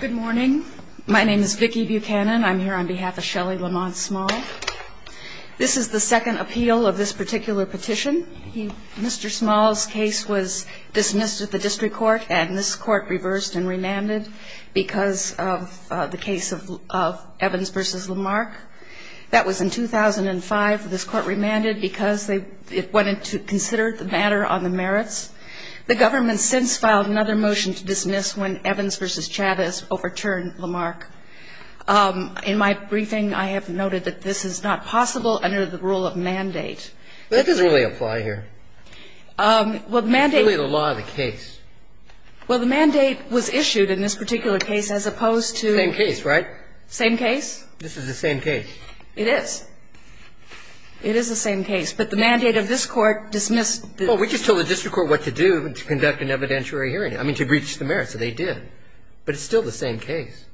Good morning. My name is Vicki Buchanan. I'm here on behalf of Shelley Lamont Small. This is the second appeal of this particular petition. Mr. Small's case was dismissed at the district court, and this court reversed and remanded because of the case of Evans v. Lamark. That was in 2005. This court remanded because it wanted to consider the matter on the merits. The government since filed another motion to dismiss when Evans v. Chavis overturned Lamark. In my briefing, I have noted that this is not possible under the rule of mandate. But that doesn't really apply here. Well, the mandate It's really the law of the case. Well, the mandate was issued in this particular case as opposed to Same case, right? Same case? This is the same case. It is. It is the same case. But the mandate of this court dismissed Well, we just told the district court what to do to conduct an evidentiary hearing. I mean, to breach the merits, so they did. But it's still the same case.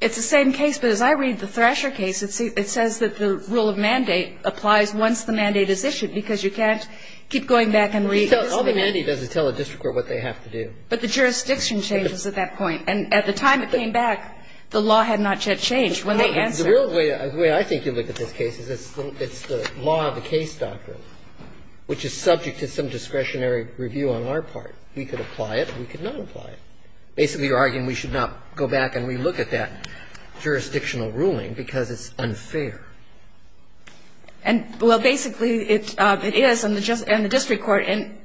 It's the same case, but as I read the Thrasher case, it says that the rule of mandate applies once the mandate is issued because you can't keep going back and re-issuing All the mandate does is tell the district court what they have to do. But the jurisdiction changes at that point. And at the time it came back, the law had not yet changed when they answered. The real way I think you look at this case is it's the law of the case doctrine, which is subject to some discretionary review on our part. We could apply it, we could not apply it. Basically, you're arguing we should not go back and re-look at that jurisdictional ruling because it's unfair. And, well, basically, it is. And the district court in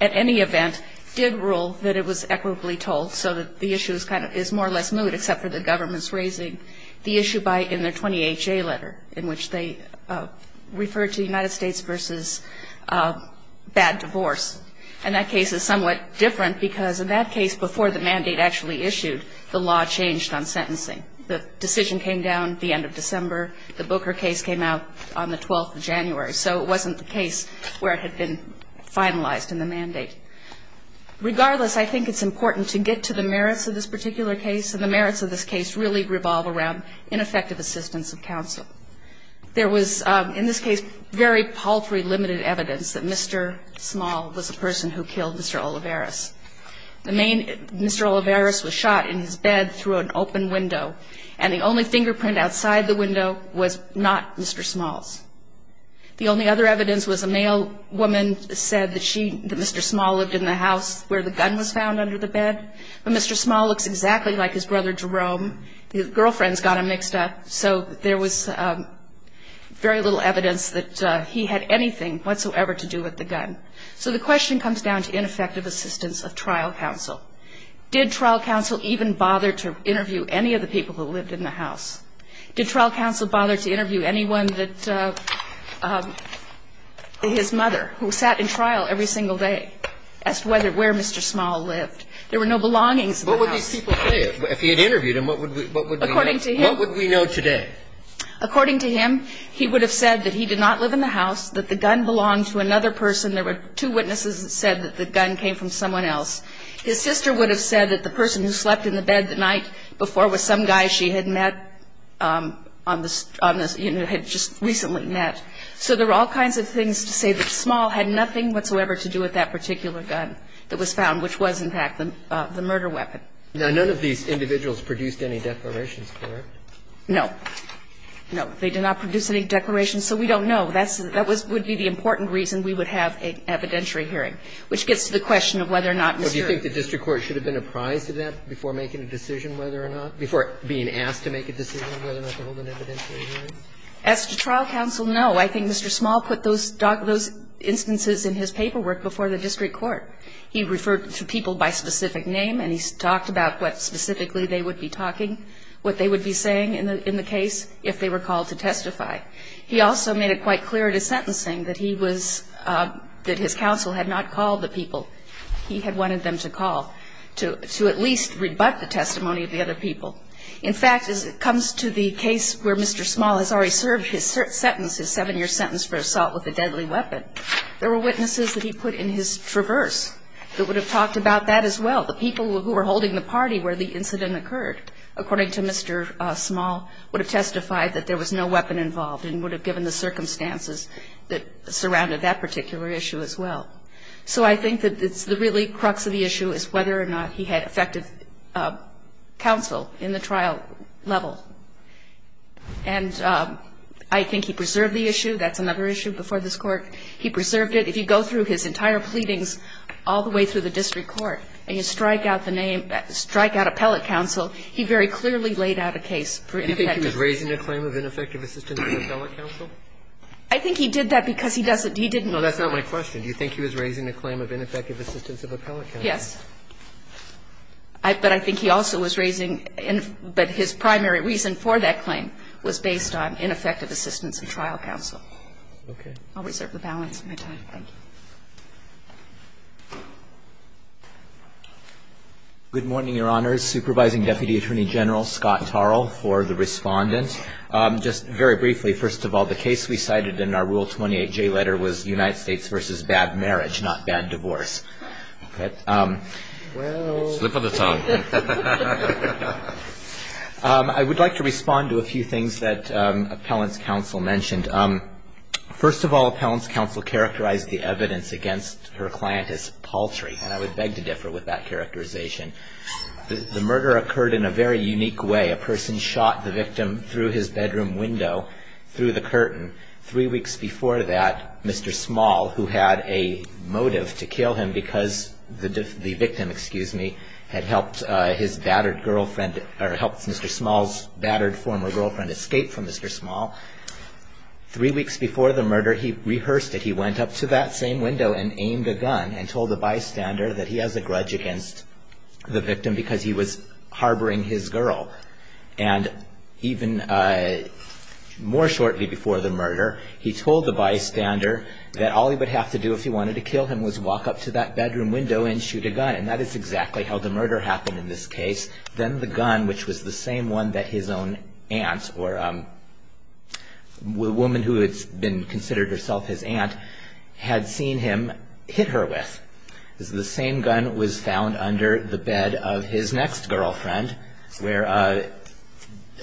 any event did rule that it was equitably told, so that the issue is kind of more or less moot, except for the government's raising the issue by in their 20HA letter, in which they refer to the United States versus bad divorce. And that case is somewhat different because in that case, before the mandate actually issued, the law changed on sentencing. The decision came down at the end of December. The Booker case came out on the 12th of January. So it wasn't the case where it had been finalized in the mandate. Regardless, I think it's important to get to the merits of this particular case, and the merits of this case really revolve around ineffective assistance of counsel. There was, in this case, very paltry limited evidence that Mr. Small was the person who killed Mr. Olivares. The main Mr. Olivares was shot in his bed through an open window, and the only fingerprint outside the window was not Mr. Small's. The only other evidence was a male woman said that she, that Mr. Small lived in the house where the gun was found under the bed. But Mr. Small looks exactly like his brother Jerome. His girlfriend's got him mixed up. So there was very little evidence that he had anything whatsoever to do with the gun. So the question comes down to ineffective assistance of trial counsel. Did trial counsel even bother to interview any of the people who lived in the house? Did trial counsel bother to interview anyone that, his mother, who sat in trial every single day, as to whether, where Mr. Small lived? There were no belongings in the house. What would these people say if he had interviewed them? What would we know today? According to him, he would have said that he did not live in the house, that the gun belonged to another person. There were two witnesses that said that the gun came from someone else. His sister would have said that the person who slept in the bed the night before was some guy she had met on the, you know, had just recently met. So there were all kinds of things to say that Small had nothing whatsoever to do with that particular gun that was found, which was, in fact, the murder weapon. Now, none of these individuals produced any declarations, correct? No. No, they did not produce any declarations, so we don't know. That's the – that would be the important reason we would have an evidentiary hearing, which gets to the question of whether or not Mr. Small. Do you think the district court should have been apprised of that before making a decision whether or not – before being asked to make a decision whether or not to hold an evidentiary hearing? As to trial counsel, no. I think Mr. Small put those – those instances in his paperwork before the district court. He referred to people by specific name, and he talked about what specifically they would be talking – what they would be saying in the case if they were called to testify. He also made it quite clear in his sentencing that he was – that his counsel had not called the people he had wanted them to call to at least rebut the testimony of the other people. In fact, as it comes to the case where Mr. Small has already served his sentence, his seven-year sentence for assault with a deadly weapon, there were witnesses that he put in his traverse that would have talked about that as well. The people who were holding the party where the incident occurred, according to Mr. Small, would have testified that there was no weapon involved and would have given the circumstances that surrounded that particular issue as well. So I think that it's – the really crux of the issue is whether or not he had effective counsel in the trial level. And I think he preserved the issue. That's another issue before this Court. He preserved it. If you go through his entire pleadings all the way through the district court and you strike out the name – strike out appellate counsel, he very clearly laid out a case for ineffective counsel. Do you think he was raising a claim of ineffective assistance of appellate counsel? I think he did that because he doesn't – he didn't know. No, that's not my question. Do you think he was raising a claim of ineffective assistance of appellate counsel? Yes. But I think he also was raising – but his primary reason for raising the claim do that. And the reason for that claim was based on ineffective assistance of trial counsel. Okay. I'll reserve the balance of my time. Thank you. Good morning, Your Honors. Supervising Deputy Attorney General Scott Tarl for the Respondent. Just very briefly, first of all, the case we cited in our Rule 28J letter was United States v. Bad Marriage, not Bad Divorce. Okay. Well... Slip of the tongue. I would like to respond to a few things that appellant's counsel mentioned. First of all, appellant's counsel characterized the evidence against her client as paltry, and I would beg to differ with that characterization. The murder occurred in a very unique way. A person shot the victim through his bedroom window, through the curtain. Three weeks before that, Mr. Small, who had a motive to kill him because the victim, excuse me, had helped his battered girlfriend – or helped Mr. Small's battered former girlfriend escape from Mr. Small – three weeks before the murder, he rehearsed it. He went up to that same window and aimed a gun and told the bystander that he has a grudge against the victim because he was harboring his girl. And even more shortly before the murder, he told the bystander that all he would have to do if he wanted to kill him was walk up to that bedroom window and shoot a gun. And that is exactly how the murder happened in this case. Then the gun, which was the same one that his own aunt, or a woman who had been considered herself his aunt, had seen him hit her with. The same gun was found under the bed of his next girlfriend, where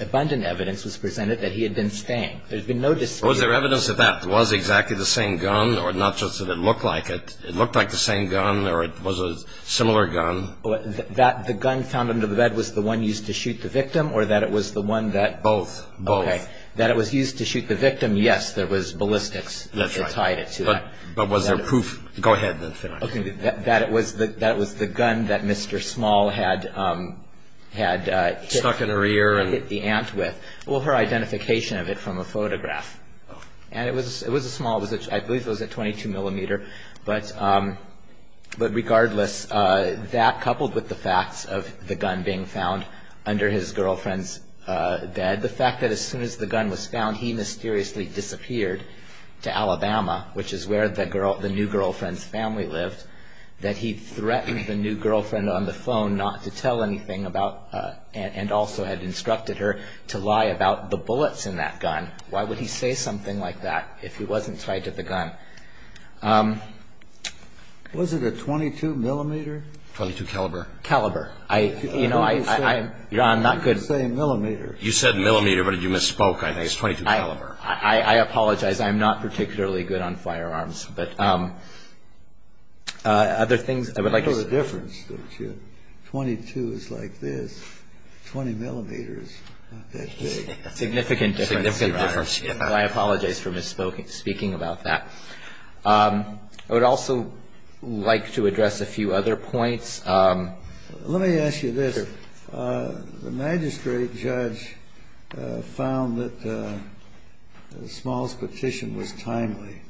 abundant evidence was presented that he had been staying. There's been no dispute. Was there evidence that that was exactly the same gun, or not just that it looked like it? It looked like the same gun, or it was a similar gun? The gun found under the bed was the one used to shoot the victim, or that it was the one that – Both. Both. Okay. That it was used to shoot the victim, yes, there was ballistics. That's right. That tied it to that. But was there proof? Go ahead. That it was the gun that Mr. Small had hit the aunt with. Stuck in her ear? Well, her identification of it from a photograph. And it was a small – I believe it was a 22 millimeter. But regardless, that coupled with the facts of the gun being found under his girlfriend's bed, the fact that as soon as the gun was found, he mysteriously disappeared to Alabama, which is where the new girlfriend's family lived, that he threatened the new girlfriend on the phone not to tell anything about – and also had instructed her to lie about the bullets in that gun. Why would he say something like that if he wasn't tied to the gun? Was it a 22 millimeter? 22 caliber. Caliber. You know, I'm not good – You didn't say millimeter. You said millimeter, but you misspoke. I think it's 22 caliber. I apologize. I'm not particularly good on firearms. But other things I would like to say – Look at the difference. 22 is like this. 20 millimeters. Not that big. Significant difference. Significant difference. I apologize for misspeaking about that. I would also like to address a few other points. Let me ask you this. The magistrate judge found that the smallest petition was timely.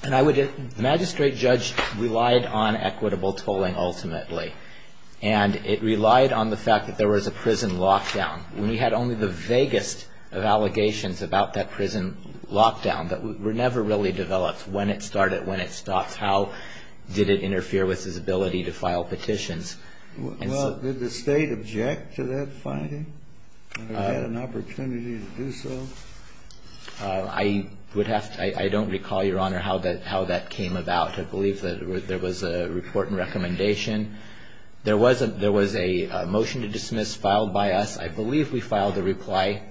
The magistrate judge relied on equitable tolling ultimately. And it relied on the fact that there was a prison lockdown. We had only the vaguest of allegations about that prison lockdown that were never really developed. When it started, when it stopped. How did it interfere with his ability to file petitions? Well, did the state object to that finding? Or had an opportunity to do so? I would have to – I don't recall, Your Honor, how that came about. I believe that there was a report and recommendation. There was a motion to dismiss filed by us. I believe we filed a reply.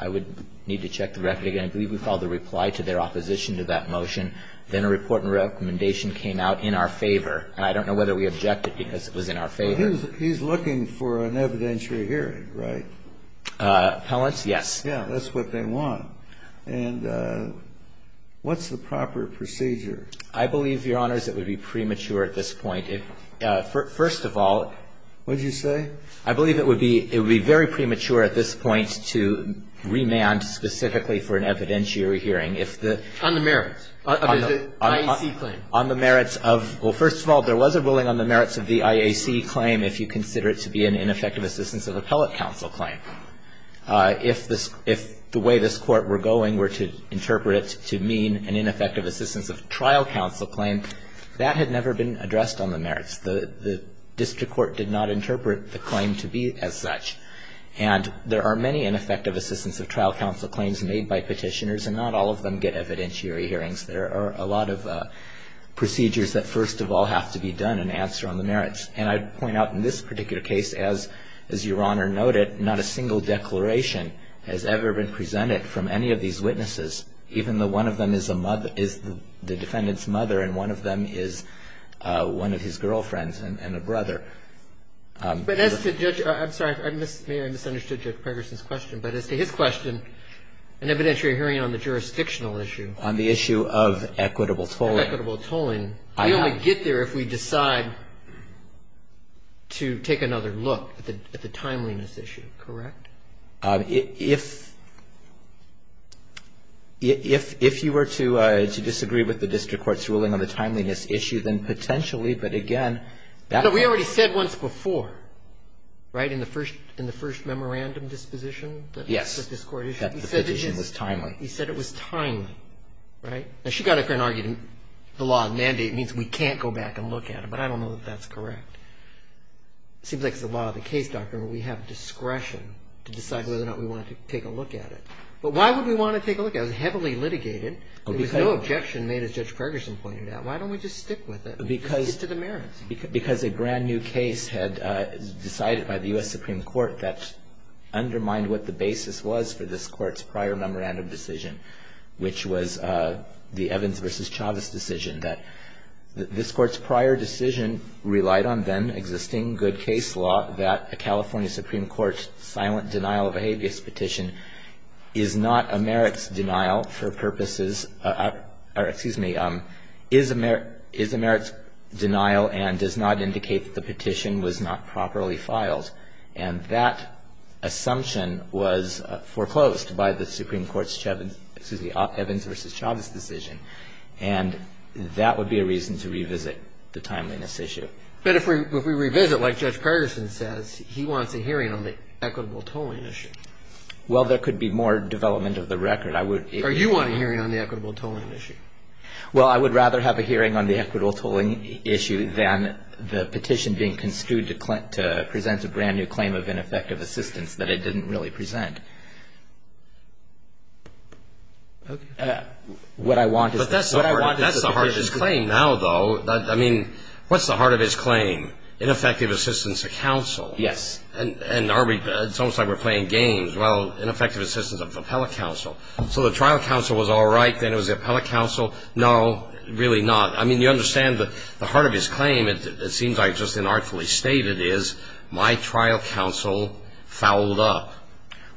I would need to check the record again. I believe we filed a reply to their opposition to that motion. Then a report and recommendation came out in our favor. And I don't know whether we objected because it was in our favor. He's looking for an evidentiary hearing, right? Appellants? Yes. Yeah, that's what they want. And what's the proper procedure? I believe, Your Honors, it would be premature at this point. First of all – What did you say? I believe it would be very premature at this point to remand specifically for an evidentiary hearing. On the merits? On the merits of – well, first of all, there was a ruling on the merits of the IAC claim if you consider it to be an ineffective assistance of appellate counsel claim. If the way this Court were going were to interpret it to mean an ineffective assistance of trial counsel claim, that had never been addressed on the merits. The district court did not interpret the claim to be as such. And there are many ineffective assistance of trial counsel claims made by petitioners, and not all of them get evidentiary hearings. There are a lot of procedures that first of all have to be done in answer on the merits. And I'd point out in this particular case, as Your Honor noted, not a single declaration has ever been presented from any of these witnesses, even though one of them is the defendant's mother and one of them is one of his girlfriends and a brother. But as to Judge – I'm sorry. I may have misunderstood Judge Pegerson's question. But as to his question, an evidentiary hearing on the jurisdictional issue. On the issue of equitable tolling. Equitable tolling. We only get there if we decide to take another look at the timeliness issue, correct? If – if you were to disagree with the district court's ruling on the timeliness issue, then potentially, but again – No, we already said once before, right, in the first memorandum disposition? Yes. That the petition was timely. He said it was timely, right? Now, she got up here and argued the law mandate means we can't go back and look at it. But I don't know that that's correct. It seems like it's the law of the case, Doctor, and we have discretion to decide whether or not we want to take a look at it. But why would we want to take a look at it? It was heavily litigated. There was no objection made, as Judge Pegerson pointed out. Why don't we just stick with it? Because – A brand new case had decided by the U.S. Supreme Court that undermined what the basis was for this court's prior memorandum decision, which was the Evans v. Chavez decision, that this court's prior decision relied on then existing good case law, that a California Supreme Court silent denial of a habeas petition is not a merits denial for purposes – or, excuse me, is a merits denial and does not indicate that the petition was not properly filed. And that assumption was foreclosed by the Supreme Court's Evans v. Chavez decision. And that would be a reason to revisit the timeliness issue. But if we revisit, like Judge Pegerson says, he wants a hearing on the equitable tolling issue. Well, there could be more development of the record. Are you wanting a hearing on the equitable tolling issue? Well, I would rather have a hearing on the equitable tolling issue than the petition being construed to present a brand new claim of ineffective assistance that it didn't really present. But that's the heart of his claim now, though. I mean, what's the heart of his claim? Ineffective assistance to counsel. Yes. And it's almost like we're playing games. Well, ineffective assistance of appellate counsel. So the trial counsel was all right. Then it was the appellate counsel. No, really not. I mean, you understand the heart of his claim. It seems like just inartfully stated is, my trial counsel fouled up.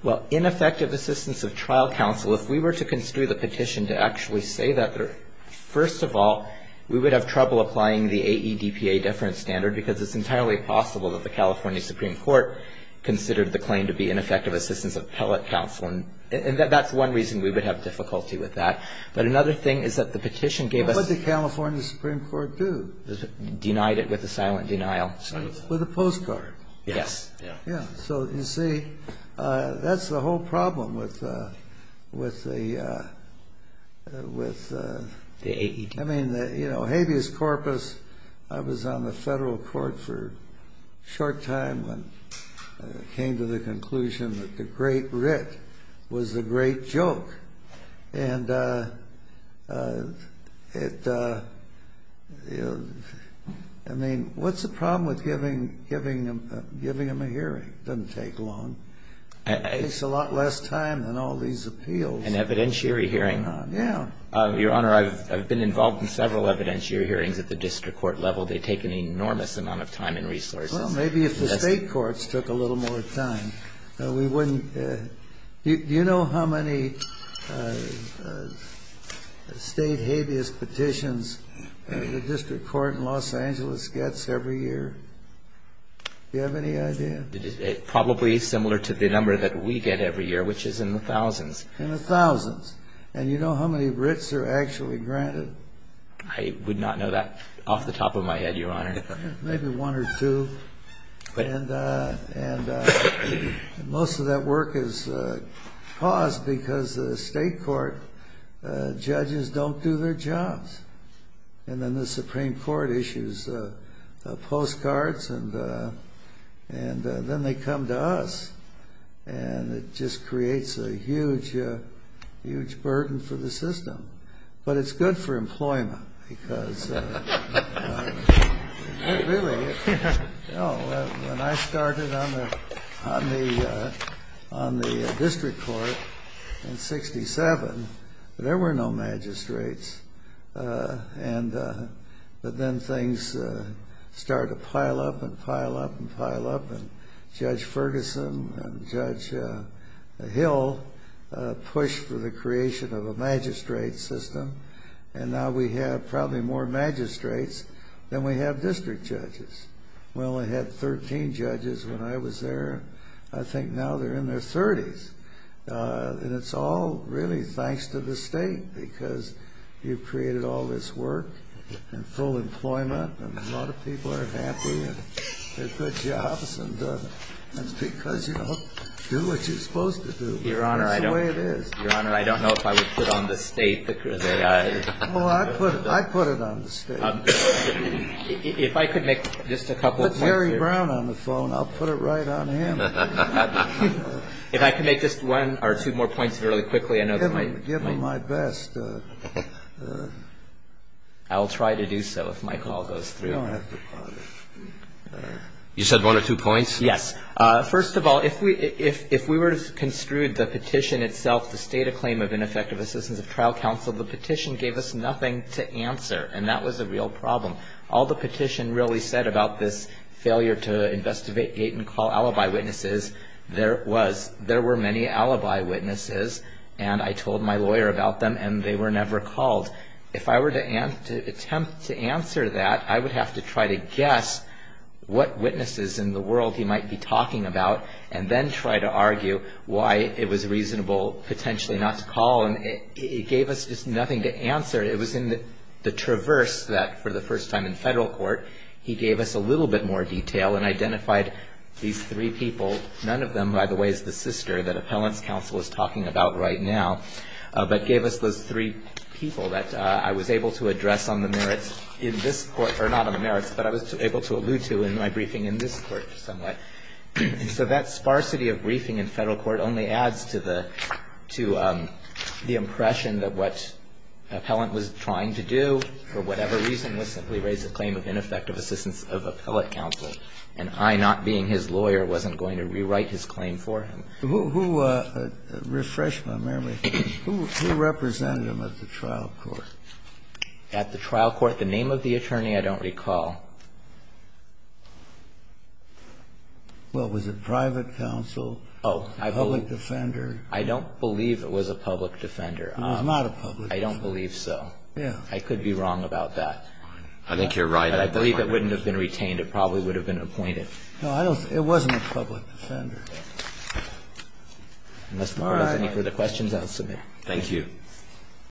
Well, ineffective assistance of trial counsel, if we were to construe the petition to actually say that, first of all, we would have trouble applying the AEDPA deference standard because it's entirely possible that the California Supreme Court considered the claim to be ineffective assistance of appellate counsel. And that's one reason we would have difficulty with that. But another thing is that the petition gave us... What did the California Supreme Court do? Denied it with a silent denial. With a postcard. Yes. Yeah. So, you see, that's the whole problem with the... The AEDPA. You know, habeas corpus, I was on the federal court for a short time when I came to the conclusion that the great writ was the great joke. And it... I mean, what's the problem with giving them a hearing? It doesn't take long. It takes a lot less time than all these appeals. An evidentiary hearing. Yeah. Your Honor, I've been involved in several evidentiary hearings at the district court level. They take an enormous amount of time and resources. Well, maybe if the state courts took a little more time, we wouldn't... Do you know how many state habeas petitions the district court in Los Angeles gets every year? Do you have any idea? Probably similar to the number that we get every year, which is in the thousands. In the thousands. And you know how many writs are actually granted? I would not know that off the top of my head, Your Honor. Maybe one or two. And most of that work is paused because the state court judges don't do their jobs. And then the Supreme Court issues postcards and then they come to us. And it just creates a huge burden for the system. But it's good for employment. Because when I started on the district court in 67, there were no magistrates. But then things started to pile up and pile up and pile up. And Judge Ferguson and Judge Hill pushed for the creation of a magistrate system. And now we have probably more magistrates than we have district judges. We only had 13 judges when I was there. I think now they're in their 30s. And it's all really thanks to the state. Because you've created all this work and full employment. And a lot of people are happy and get good jobs. And it's because you don't do what you're supposed to do. That's the way it is. Your Honor, I don't know if I would put it on the state. Oh, I'd put it on the state. If I could make just a couple of points here. Put Jerry Brown on the phone. I'll put it right on him. If I could make just one or two more points really quickly. Give him my best. I'll try to do so if my call goes through. You said one or two points? Yes. First of all, if we were to construe the petition itself, the state of claim of ineffective assistance of trial counsel, the petition gave us nothing to answer. And that was a real problem. All the petition really said about this failure to investigate, gate and call alibi witnesses. There was. There were many alibi witnesses and I told my lawyer about them and they were never called. If I were to attempt to answer that, I would have to try to guess what witnesses in the world he might be talking about and then try to argue why it was reasonable potentially not to call. And it gave us just nothing to answer. It was in the traverse that for the first time in federal court, he gave us a little bit more detail and identified these three people. None of them, by the way, is the sister that appellant's counsel is talking about right now, but gave us those three people that I was able to address on the merits in this court, or not on the merits, but I was able to allude to in my briefing in this court somewhat. So that sparsity of briefing in federal court only adds to the impression that what appellant was trying to do, for whatever reason, was simply raise a claim of ineffective assistance of appellate counsel, and I, not being his lawyer, wasn't going to rewrite his claim for him. Kennedy. Who refreshed my memory. Who represented him at the trial court? Gershengorn. At the trial court? The name of the attorney I don't recall. Well, was it private counsel? Gershengorn. Oh, I believe. Kennedy. Gershengorn. I don't believe it was a public defender. Kennedy. It was not a public defender. Gershengorn. I don't believe so. Kennedy. Yeah. Gershengorn. I could be wrong about that. Kennedy. I think you're right. Gershengorn. I believe it wouldn't have been retained. It probably would have been appointed. Kennedy. No, I don't. It wasn't a public defender. Gershengorn. Unless the Court has any further questions, I'll submit. Kennedy.